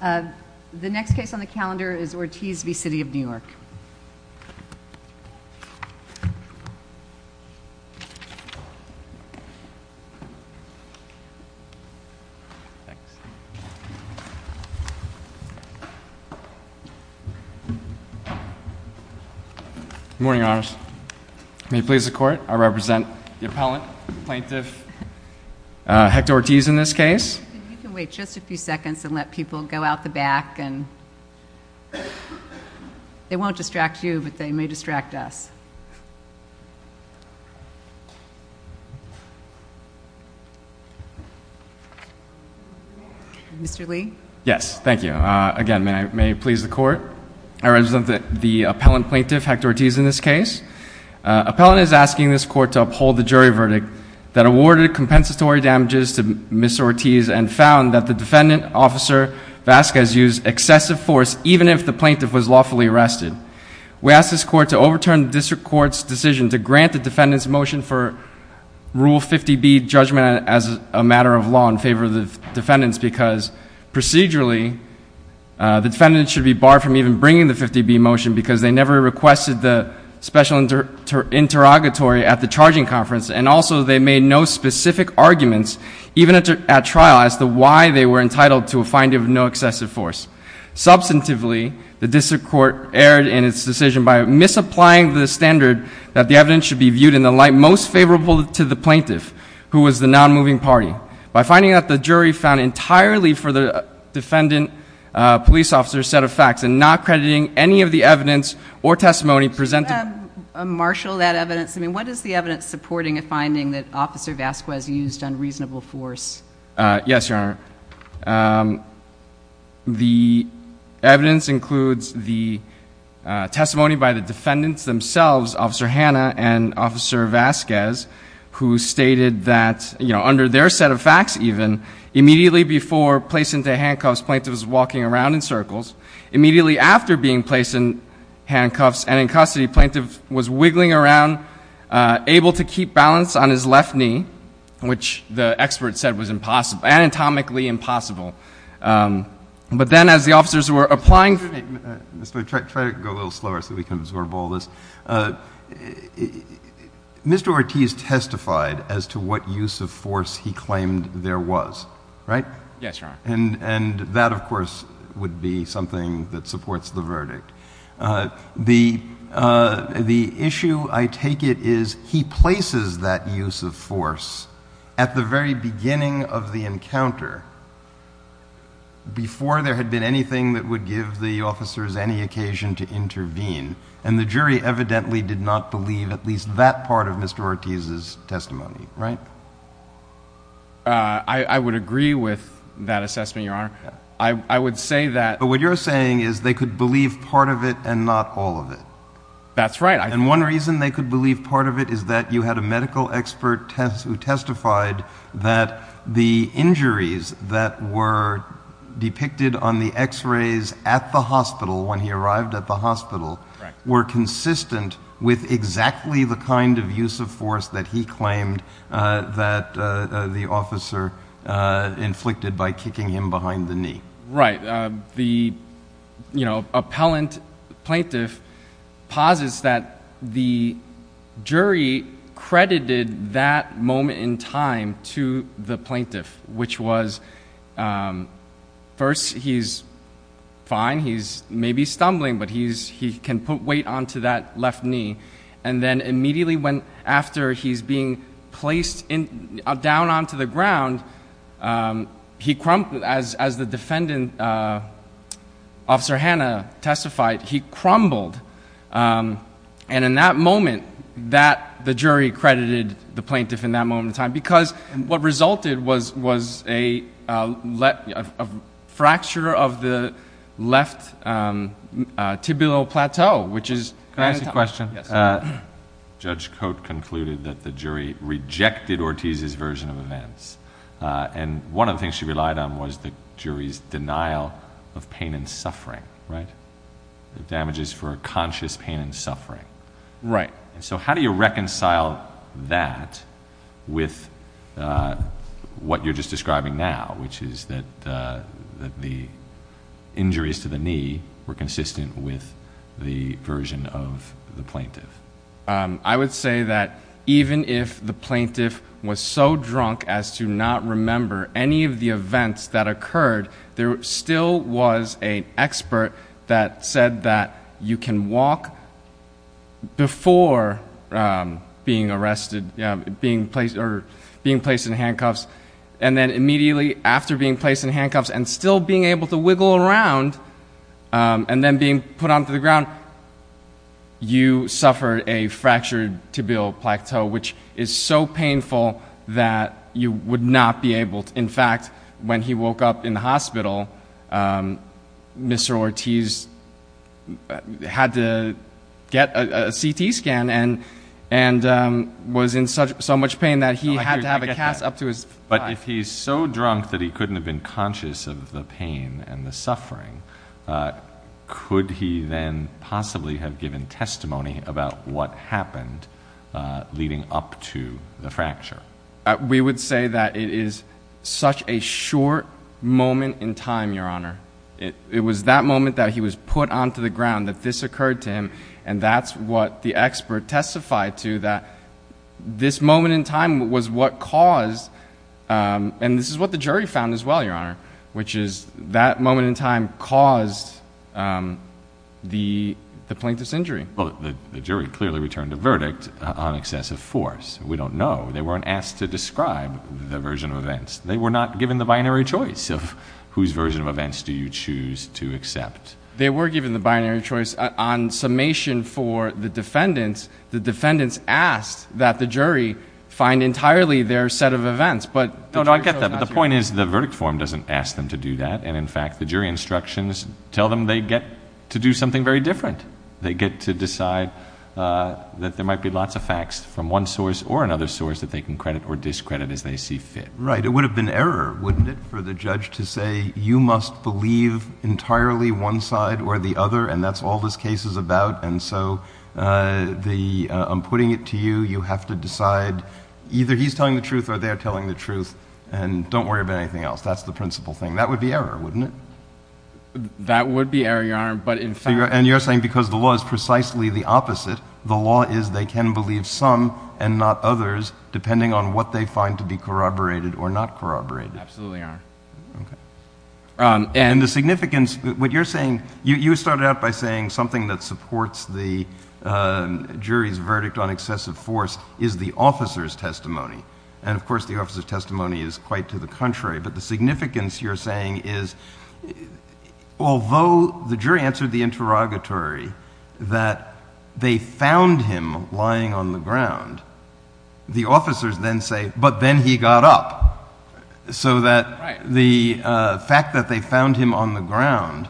The next case on the calendar is Ortiz v. City of New York. Good morning, Your Honors. May it please the Court, I represent the appellant, the plaintiff, Hector Ortiz in this case. You can wait just a few seconds and let people go out the back. They won't distract you, but they may distract us. Mr. Lee? Yes, thank you. Again, may it please the Court, I represent the appellant, the plaintiff, Hector Ortiz in this case. Appellant is asking this Court to uphold the jury verdict that awarded compensatory damages to Ms. Ortiz and found that the defendant, Officer Vasquez, used excessive force even if the plaintiff was lawfully arrested. We ask this Court to overturn the District Court's decision to grant the defendant's motion for Rule 50B judgment as a matter of law in favor of the defendant's because procedurally, the defendant should be barred from even bringing the 50B motion because they never requested the special interrogatory at the charging conference, and also they made no specific arguments, even at trial, as to why they were entitled to a finding of no excessive force. Substantively, the District Court erred in its decision by misapplying the standard that the evidence should be viewed in the light most favorable to the plaintiff, who was the non-moving party, by finding that the jury found entirely for the defendant police officer's set of facts and not crediting any of the evidence or testimony presented. Should I marshal that evidence? I mean, what is the evidence supporting a finding that Officer Vasquez used unreasonable force? Yes, Your Honor. The evidence includes the testimony by the defendants themselves, Officer Hanna and Officer Vasquez, who stated that under their set of facts even, immediately before placing the handcuffs, the plaintiff was walking around in circles. Immediately after being placed in handcuffs and in custody, the plaintiff was wiggling around, able to keep balance on his left knee, which the expert said was anatomically impossible. But then as the officers were applying— Wait, Mr. White, try to go a little slower so we can absorb all this. Mr. Ortiz testified as to what use of force he claimed there was, right? Yes, Your Honor. And that, of course, would be something that supports the verdict. The issue, I take it, is he places that use of force at the very beginning of the encounter, before there had been anything that would give the officers any occasion to intervene, and the jury evidently did not believe at least that part of Mr. Ortiz's testimony, right? I would agree with that assessment, Your Honor. I would say that— But what you're saying is they could believe part of it and not all of it. That's right. And one reason they could believe part of it is that you had a medical expert who testified that the injuries that were depicted on the x-rays at the hospital, when he arrived at the hospital, were consistent with exactly the kind of use of force that he claimed that the officer inflicted by kicking him behind the knee. Right. The appellant plaintiff posits that the jury credited that moment in time to the plaintiff, which was, first, he's fine. He may be stumbling, but he can put weight onto that left knee. And then immediately after he's being placed down onto the ground, as the defendant, Officer Hanna, testified, he crumbled. And in that moment, the jury credited the plaintiff in that moment in time, because what resulted was a fracture of the left tibial plateau, which is— Can I ask a question? Yes. Judge Coate concluded that the jury rejected Ortiz's version of events. And one of the things she relied on was the jury's denial of pain and suffering, right? The damages for conscious pain and suffering. Right. And so how do you reconcile that with what you're just describing now, which is that the injuries to the knee were consistent with the version of the plaintiff? I would say that even if the plaintiff was so drunk as to not remember any of the events that occurred, there still was an expert that said that you can walk before being placed in handcuffs, and then immediately after being placed in handcuffs and still being able to wiggle around, and then being put onto the ground, you suffer a fractured tibial plateau, which is so painful that you would not be able to— Mr. Ortiz had to get a CT scan and was in so much pain that he had to have a cast up to his thigh. But if he's so drunk that he couldn't have been conscious of the pain and the suffering, could he then possibly have given testimony about what happened leading up to the fracture? We would say that it is such a short moment in time, Your Honor. It was that moment that he was put onto the ground that this occurred to him, and that's what the expert testified to, that this moment in time was what caused— and this is what the jury found as well, Your Honor, which is that moment in time caused the plaintiff's injury. Well, the jury clearly returned a verdict on excessive force. We don't know. They weren't asked to describe the version of events. They were not given the binary choice of whose version of events do you choose to accept. They were given the binary choice on summation for the defendants. The defendants asked that the jury find entirely their set of events, but the jury chose not to. No, no, I get that, but the point is the verdict form doesn't ask them to do that, and in fact the jury instructions tell them they get to do something very different. They get to decide that there might be lots of facts from one source or another source that they can credit or discredit as they see fit. Right. It would have been error, wouldn't it, for the judge to say you must believe entirely one side or the other, and that's all this case is about, and so I'm putting it to you. You have to decide either he's telling the truth or they're telling the truth, and don't worry about anything else. That's the principal thing. That would be error, wouldn't it? That would be error, Your Honor, but in fact— And you're saying because the law is precisely the opposite. The law is they can believe some and not others depending on what they find to be corroborated or not corroborated. Absolutely, Your Honor. And the significance, what you're saying, you started out by saying something that supports the jury's verdict on excessive force is the officer's testimony, and of course the officer's testimony is quite to the contrary, but the significance you're saying is although the jury answered the interrogatory that they found him lying on the ground, the officers then say, but then he got up, so that the fact that they found him on the ground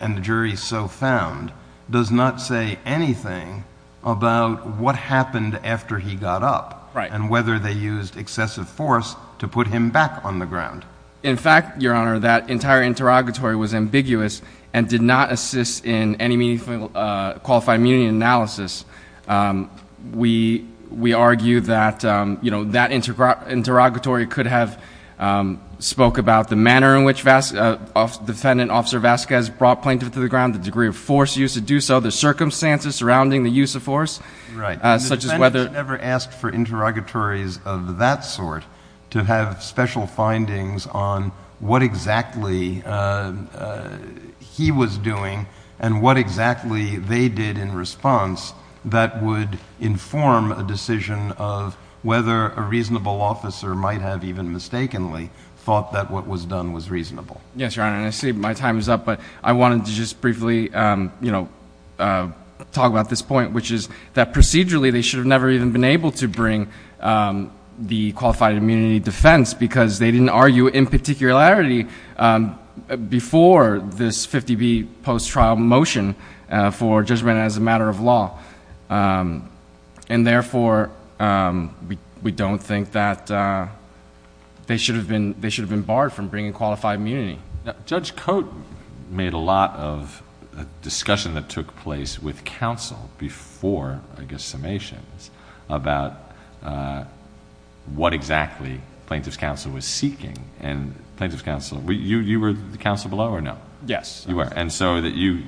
and the jury so found does not say anything about what happened after he got up and whether they used excessive force to put him back on the ground. In fact, Your Honor, that entire interrogatory was ambiguous and did not assist in any meaningful qualified immunity analysis. We argue that that interrogatory could have spoke about the manner in which Defendant Officer Vasquez brought Plaintiff to the ground, the degree of force used to do so, the circumstances surrounding the use of force, such as whether— and there are interrogatories of that sort to have special findings on what exactly he was doing and what exactly they did in response that would inform a decision of whether a reasonable officer might have even mistakenly thought that what was done was reasonable. Yes, Your Honor, and I see my time is up, but I wanted to just briefly talk about this point, which is that procedurally they should have never even been able to bring the qualified immunity defense because they didn't argue in particularity before this 50B post-trial motion for judgment as a matter of law. And therefore, we don't think that they should have been barred from bringing qualified immunity. Judge Cote made a lot of discussion that took place with counsel before, I guess, summations about what exactly Plaintiff's counsel was seeking. And Plaintiff's counsel—you were counsel below or no? Yes. You were. And so you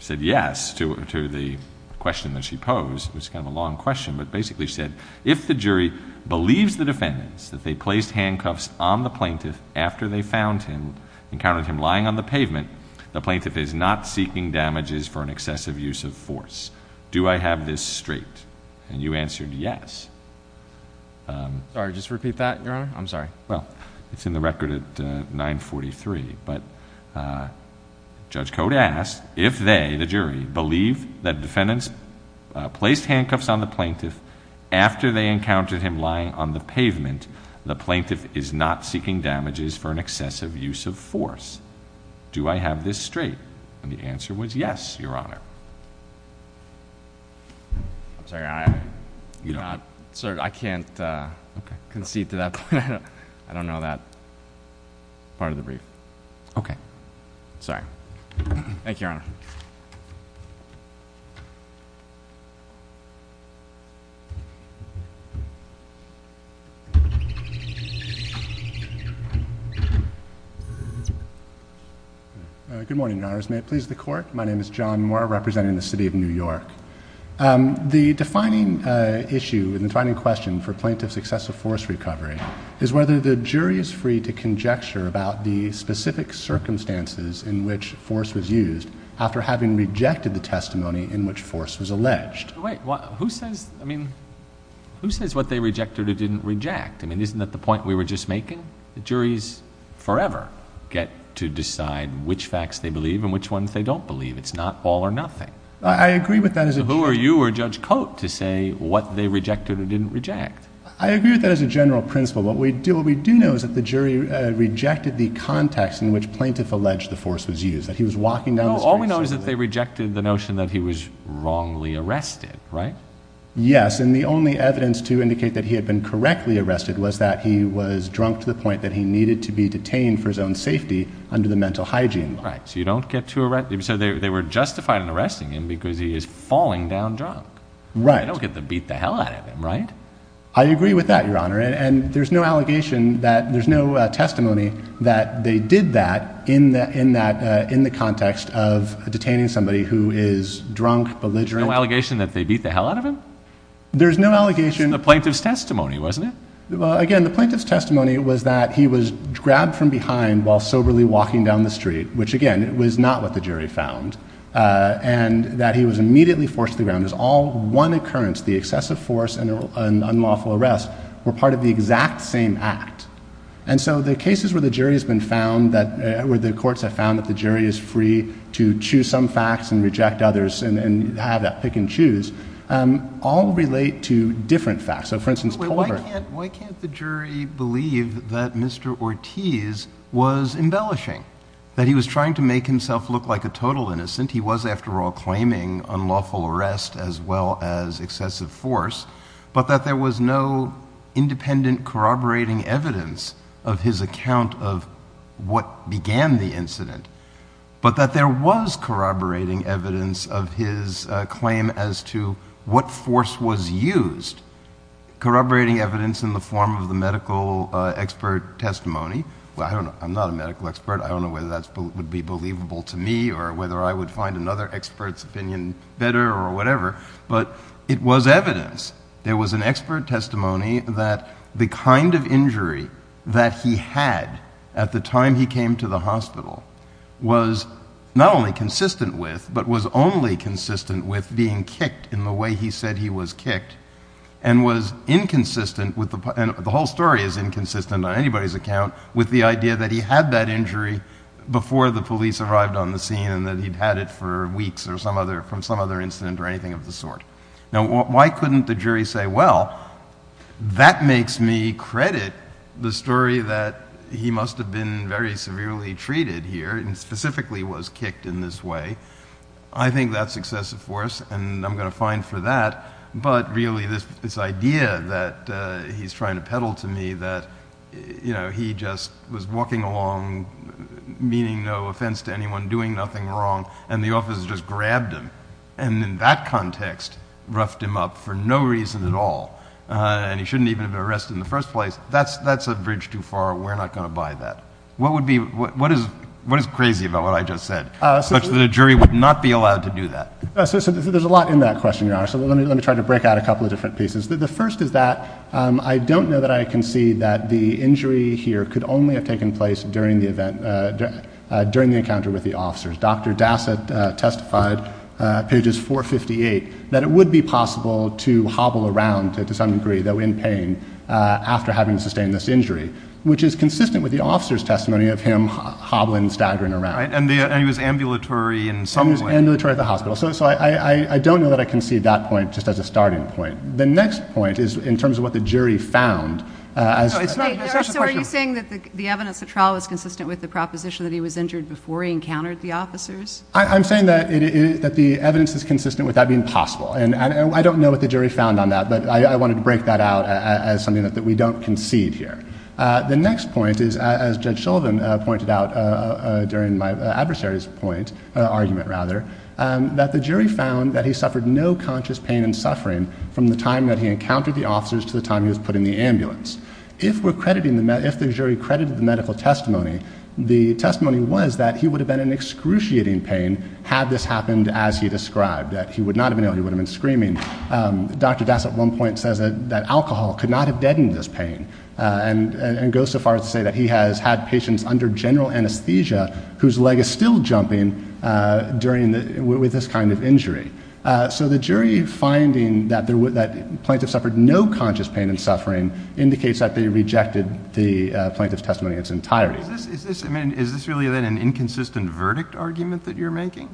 said yes to the question that she posed, which is kind of a long question, but basically she said, if the jury believes the defendants that they placed handcuffs on the plaintiff after they found him, encountered him lying on the pavement, the plaintiff is not seeking damages for an excessive use of force. Do I have this straight? And you answered yes. Sorry, just repeat that, Your Honor? I'm sorry. Well, it's in the record at 943, but Judge Cote asked if they, the jury, believe that defendants placed handcuffs on the plaintiff after they encountered him lying on the pavement, the plaintiff is not seeking damages for an excessive use of force. Do I have this straight? And the answer was yes, Your Honor. I'm sorry, I can't concede to that. I don't know that part of the brief. Okay. Good morning, Your Honors. May it please the Court? My name is John Moore, representing the City of New York. The defining issue and defining question for plaintiff's excessive force recovery is whether the jury is free to conjecture about the specific circumstances in which force was used after having rejected the testimony in which force was alleged. Wait, who says, I mean, who says what they rejected or didn't reject? I mean, isn't that the point we were just making? Juries forever get to decide which facts they believe and which ones they don't believe. It's not all or nothing. I agree with that as a jury. So who are you or Judge Cote to say what they rejected or didn't reject? I agree with that as a general principle. What we do know is that the jury rejected the context in which plaintiff alleged the force was used, that he was walking down the street. No, all we know is that they rejected the notion that he was wrongly arrested, right? Yes, and the only evidence to indicate that he had been correctly arrested was that he was drunk to the point that he needed to be detained for his own safety under the mental hygiene law. Right, so you don't get to arrest him. So they were justified in arresting him because he is falling down drunk. Right. They don't get to beat the hell out of him, right? I agree with that, Your Honor, and there's no allegation that there's no testimony that they did that in the context of detaining somebody who is drunk, belligerent. No allegation that they beat the hell out of him? There's no allegation. The plaintiff's testimony, wasn't it? Well, again, the plaintiff's testimony was that he was grabbed from behind while soberly walking down the street, which, again, was not what the jury found, and that he was immediately forced to the ground. It was all one occurrence. The excessive force and unlawful arrest were part of the exact same act. And so the cases where the jury has been found, where the courts have found that the jury is free to choose some facts and reject others and have that pick and choose, all relate to different facts. Why can't the jury believe that Mr. Ortiz was embellishing, that he was trying to make himself look like a total innocent? He was, after all, claiming unlawful arrest as well as excessive force, but that there was no independent corroborating evidence of his account of what began the incident, but that there was corroborating evidence of his claim as to what force was used, corroborating evidence in the form of the medical expert testimony. Well, I'm not a medical expert. I don't know whether that would be believable to me or whether I would find another expert's opinion better or whatever, but it was evidence. There was an expert testimony that the kind of injury that he had at the time he came to the hospital was not only consistent with, but was only consistent with being kicked in the way he said he was kicked and was inconsistent with, and the whole story is inconsistent on anybody's account, with the idea that he had that injury before the police arrived on the scene and that he'd had it for weeks or from some other incident or anything of the sort. Now, why couldn't the jury say, well, that makes me credit the story that he must have been very severely treated here and specifically was kicked in this way. I think that's excessive force, and I'm going to fine for that, but really this idea that he's trying to peddle to me that he just was walking along, meaning no offense to anyone, doing nothing wrong, and the officers just grabbed him. And in that context, roughed him up for no reason at all, and he shouldn't even have been arrested in the first place, that's a bridge too far. We're not going to buy that. What is crazy about what I just said such that a jury would not be allowed to do that? There's a lot in that question, Your Honor, so let me try to break out a couple of different pieces. The first is that I don't know that I can see that the injury here could only have taken place during the encounter with the officers. Dr. Dassett testified, pages 458, that it would be possible to hobble around to some degree, though in pain, after having sustained this injury, which is consistent with the officer's testimony of him hobbling, staggering around. And he was ambulatory in some way. He was ambulatory at the hospital. So I don't know that I can see that point just as a starting point. The next point is in terms of what the jury found. So are you saying that the evidence of trial is consistent with the proposition that he was injured before he encountered the officers? I'm saying that the evidence is consistent with that being possible. And I don't know what the jury found on that, but I wanted to break that out as something that we don't concede here. The next point is, as Judge Sullivan pointed out during my adversary's argument, that the jury found that he suffered no conscious pain and suffering from the time that he encountered the officers to the time he was put in the ambulance. If the jury credited the medical testimony, the testimony was that he would have been in excruciating pain had this happened as he described, that he would not have been ill, he would have been screaming. Dr. Das at one point says that alcohol could not have deadened this pain and goes so far as to say that he has had patients under general anesthesia whose leg is still jumping with this kind of injury. So the jury finding that the plaintiff suffered no conscious pain and suffering indicates that they rejected the plaintiff's testimony in its entirety. Is this really then an inconsistent verdict argument that you're making?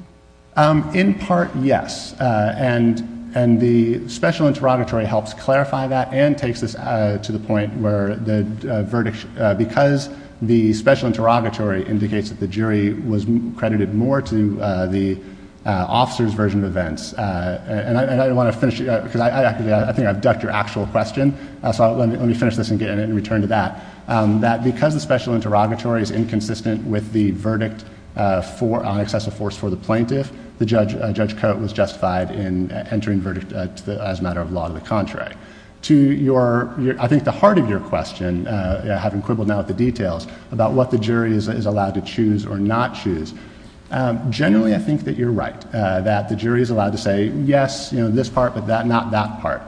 In part, yes. And the special interrogatory helps clarify that and takes us to the point where the verdict, because the special interrogatory indicates that the jury was credited more to the officer's version of events. And I want to finish, because I think I've ducked your actual question, so let me finish this and get in and return to that. That because the special interrogatory is inconsistent with the verdict on excessive force for the plaintiff, Judge Coate was justified in entering verdict as a matter of law to the contrary. To your, I think the heart of your question, having quibbled now with the details, about what the jury is allowed to choose or not choose. Generally, I think that you're right, that the jury is allowed to say, yes, this part, but not that part.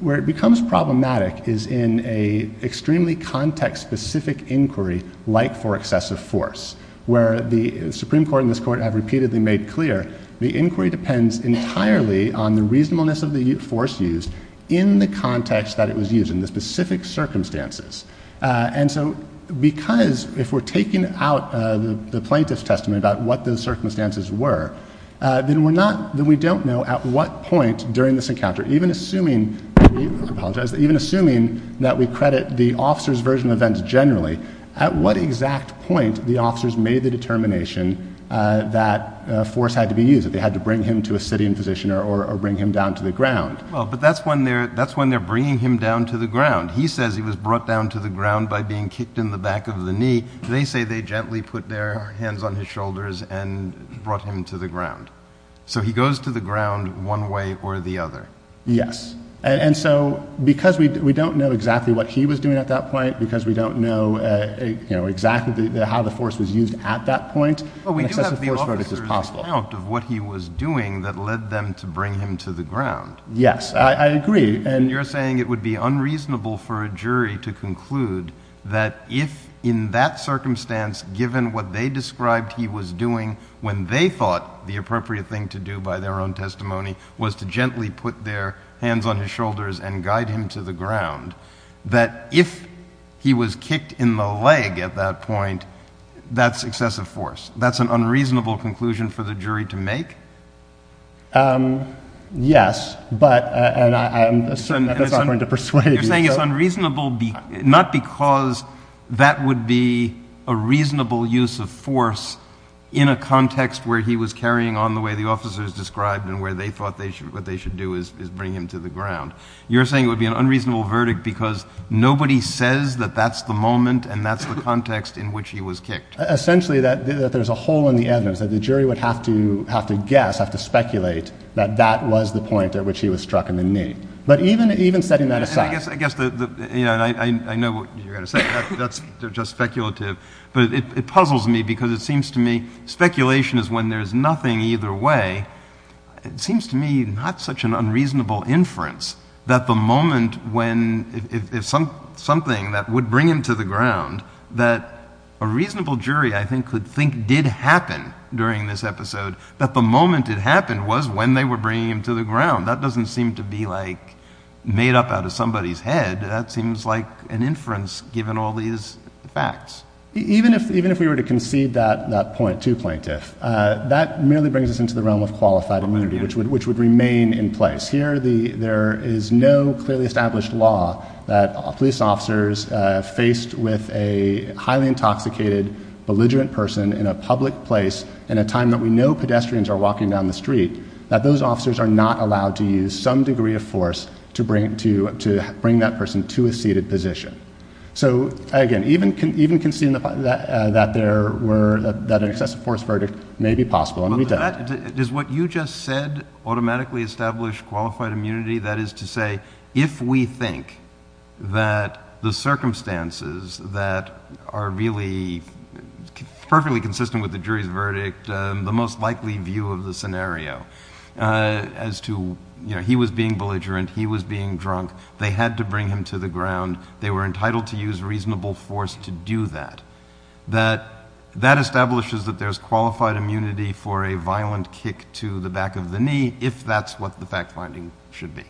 Where it becomes problematic is in a extremely context-specific inquiry like for excessive force, where the Supreme Court and this court have repeatedly made clear, the inquiry depends entirely on the reasonableness of the force used in the context that it was used, in the specific circumstances. And so, because if we're taking out the plaintiff's testimony about what those circumstances were, then we're not, then we don't know at what point during this encounter, even assuming, I apologize, even assuming that we credit the officer's version of events generally, at what exact point the officers made the determination that force had to be used, that they had to bring him to a sitting position or bring him down to the ground. Well, but that's when they're bringing him down to the ground. He says he was brought down to the ground by being kicked in the back of the knee. They say they gently put their hands on his shoulders and brought him to the ground. So he goes to the ground one way or the other. Yes. And so, because we don't know exactly what he was doing at that point, because we don't know exactly how the force was used at that point, Well, we do have the officer's account of what he was doing that led them to bring him to the ground. Yes, I agree. And you're saying it would be unreasonable for a jury to conclude that if in that circumstance, given what they described he was doing, when they thought the appropriate thing to do by their own testimony was to gently put their hands on his shoulders and guide him to the ground, that if he was kicked in the leg at that point, that's excessive force. That's an unreasonable conclusion for the jury to make? Yes, but I'm not going to persuade you. You're saying it's unreasonable not because that would be a reasonable use of force in a context where he was carrying on the way the officers described and where they thought what they should do is bring him to the ground. You're saying it would be an unreasonable verdict because nobody says that that's the moment and that's the context in which he was kicked. Essentially, that there's a hole in the evidence, that the jury would have to guess, have to speculate, that that was the point at which he was struck in the knee. But even setting that aside, I guess I know what you're going to say. That's just speculative. But it puzzles me because it seems to me speculation is when there's nothing either way. It seems to me not such an unreasonable inference that the moment when something that would bring him to the ground, that a reasonable jury, I think, could think did happen during this episode, that the moment it happened was when they were bringing him to the ground. That doesn't seem to be made up out of somebody's head. That seems like an inference given all these facts. Even if we were to concede that to plaintiff, that merely brings us into the realm of qualified immunity, which would remain in place. Here, there is no clearly established law that police officers faced with a highly intoxicated, belligerent person in a public place in a time that we know pedestrians are walking down the street, that those officers are not allowed to use some degree of force to bring that person to a seated position. So, again, even conceding that an excessive force verdict may be possible, and we don't. Does what you just said automatically establish qualified immunity? That is to say, if we think that the circumstances that are really perfectly consistent with the jury's verdict, the most likely view of the scenario as to he was being belligerent, he was being drunk, they had to bring him to the ground. They were entitled to use reasonable force to do that. That establishes that there's qualified immunity for a violent kick to the back of the knee, if that's what the fact-finding should be.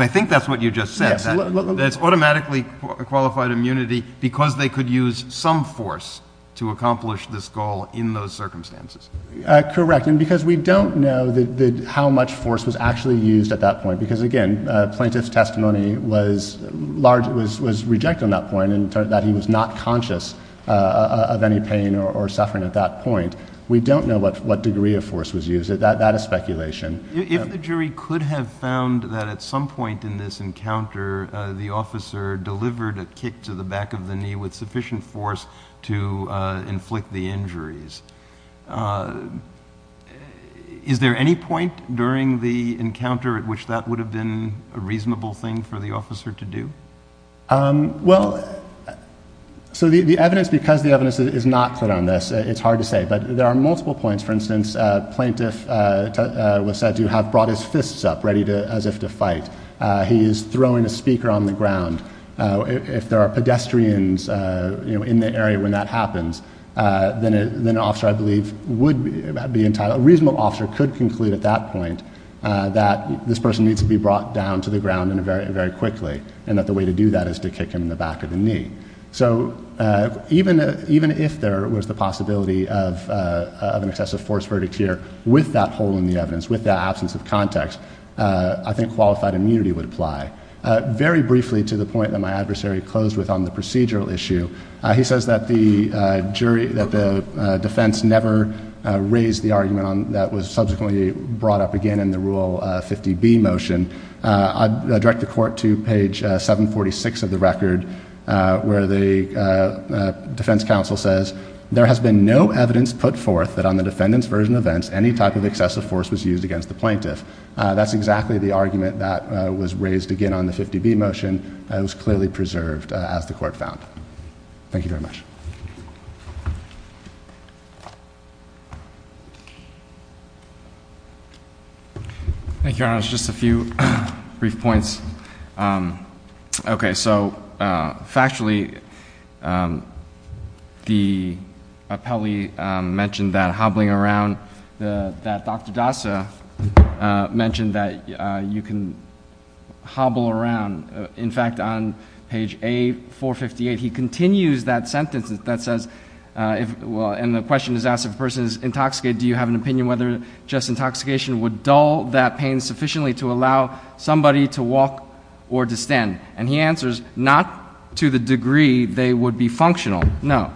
I think that's what you just said, that it's automatically qualified immunity because they could use some force to accomplish this goal in those circumstances. Correct. And because we don't know how much force was actually used at that point. Because, again, plaintiff's testimony was rejected on that point and that he was not conscious of any pain or suffering at that point. We don't know what degree of force was used. That is speculation. If the jury could have found that at some point in this encounter the officer delivered a kick to the back of the knee with sufficient force to inflict the injuries, is there any point during the encounter at which that would have been a reasonable thing for the officer to do? Well, so the evidence, because the evidence is not clear on this, it's hard to say, but there are multiple points. For instance, plaintiff was said to have brought his fists up ready as if to fight. He is throwing a speaker on the ground. If there are pedestrians in the area when that happens, then an officer, I believe, would be entitled, a reasonable officer could conclude at that point that this person needs to be brought down to the ground very quickly and that the way to do that is to kick him in the back of the knee. So even if there was the possibility of an excessive force verdict here with that hole in the evidence, with that absence of context, I think qualified immunity would apply. Very briefly, to the point that my adversary closed with on the procedural issue, he says that the defense never raised the argument that was subsequently brought up again in the Rule 50B motion. I direct the court to page 746 of the record where the defense counsel says, there has been no evidence put forth that on the defendant's version of events any type of excessive force was used against the plaintiff. That's exactly the argument that was raised again on the 50B motion. It was clearly preserved, as the court found. Thank you very much. Thank you, Your Honor. Just a few brief points. Okay, so factually, the appellee mentioned that hobbling around, that Dr. Dasa mentioned that you can hobble around. In fact, on page A458, he continues that sentence that says, and the question is asked if a person is intoxicated, do you have an opinion whether just intoxication would dull that pain sufficiently to allow somebody to walk or to stand? And he answers, not to the degree they would be functional, no.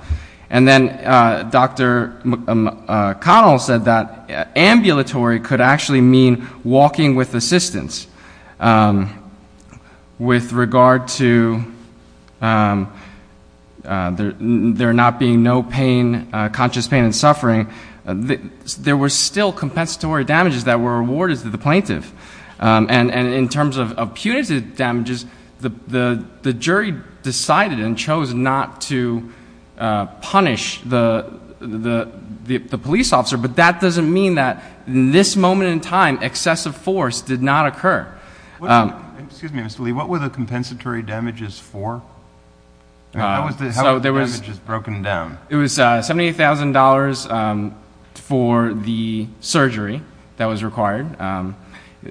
And then Dr. McConnell said that ambulatory could actually mean walking with assistance. With regard to there not being no pain, conscious pain and suffering, there were still compensatory damages that were awarded to the plaintiff. And in terms of punitive damages, the jury decided and chose not to punish the police officer, but that doesn't mean that in this moment in time excessive force did not occur. Excuse me, Mr. Lee, what were the compensatory damages for? How were the damages broken down? It was $78,000 for the surgery that was required.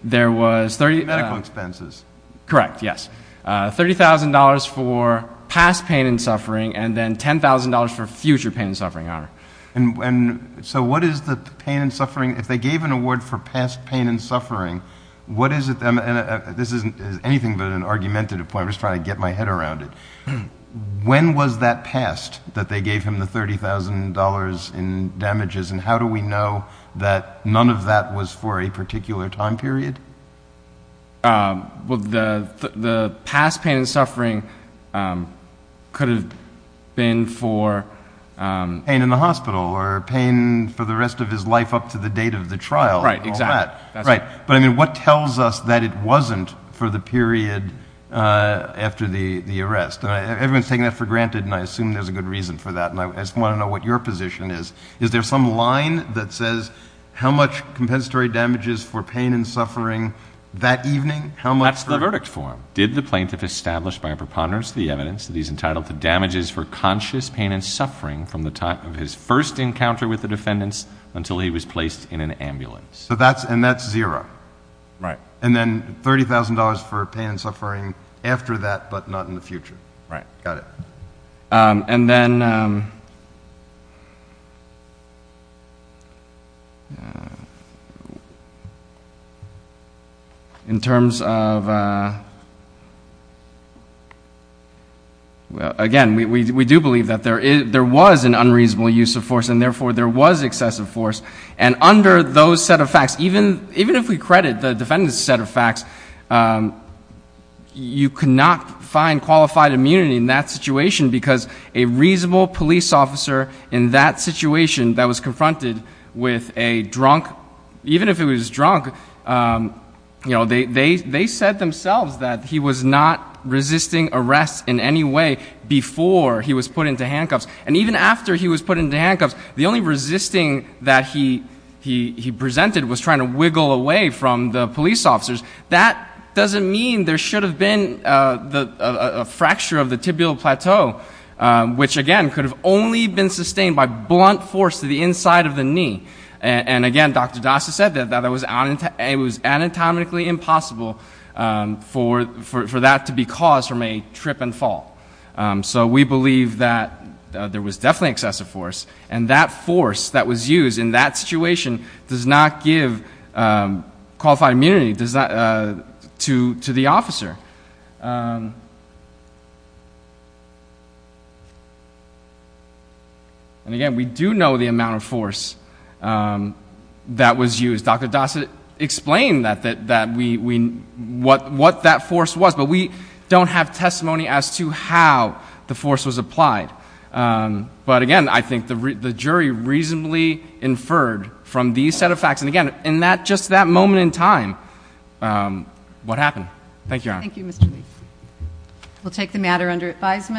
Medical expenses. Correct, yes. $30,000 for past pain and suffering, and then $10,000 for future pain and suffering, Your Honor. And so what is the pain and suffering? If they gave an award for past pain and suffering, what is it? This isn't anything but an argumentative point. I'm just trying to get my head around it. When was that passed, that they gave him the $30,000 in damages, and how do we know that none of that was for a particular time period? Well, the past pain and suffering could have been for pain in the hospital or pain for the rest of his life up to the date of the trial and all that. Right, exactly. But, I mean, what tells us that it wasn't for the period after the arrest? Everyone's taking that for granted, and I assume there's a good reason for that, and I just want to know what your position is. Is there some line that says how much compensatory damages for pain and suffering that evening? That's the verdict form. Did the plaintiff establish by a preponderance the evidence that he's entitled to damages for conscious pain and suffering from the time of his first encounter with the defendants until he was placed in an ambulance? And that's zero. Right. And then $30,000 for pain and suffering after that, but not in the future. Right. Got it. And then in terms of, again, we do believe that there was an unreasonable use of force, and therefore there was excessive force, and under those set of facts, a reasonable police officer in that situation that was confronted with a drunk, even if it was drunk, they said themselves that he was not resisting arrest in any way before he was put into handcuffs. And even after he was put into handcuffs, the only resisting that he presented was trying to wiggle away from the police officers. That doesn't mean there should have been a fracture of the tibial plateau, which, again, could have only been sustained by blunt force to the inside of the knee. And, again, Dr. Dasa said that it was anatomically impossible for that to be caused from a trip and fall. So we believe that there was definitely excessive force, and that force that was used in that situation does not give qualified immunity to the officer. And, again, we do know the amount of force that was used. Dr. Dasa explained what that force was, but we don't have testimony as to how the force was applied. But, again, I think the jury reasonably inferred from these set of facts. And, again, in just that moment in time, what happened. Thank you, Your Honor. Thank you, Mr. Lee. We'll take the matter under advisement.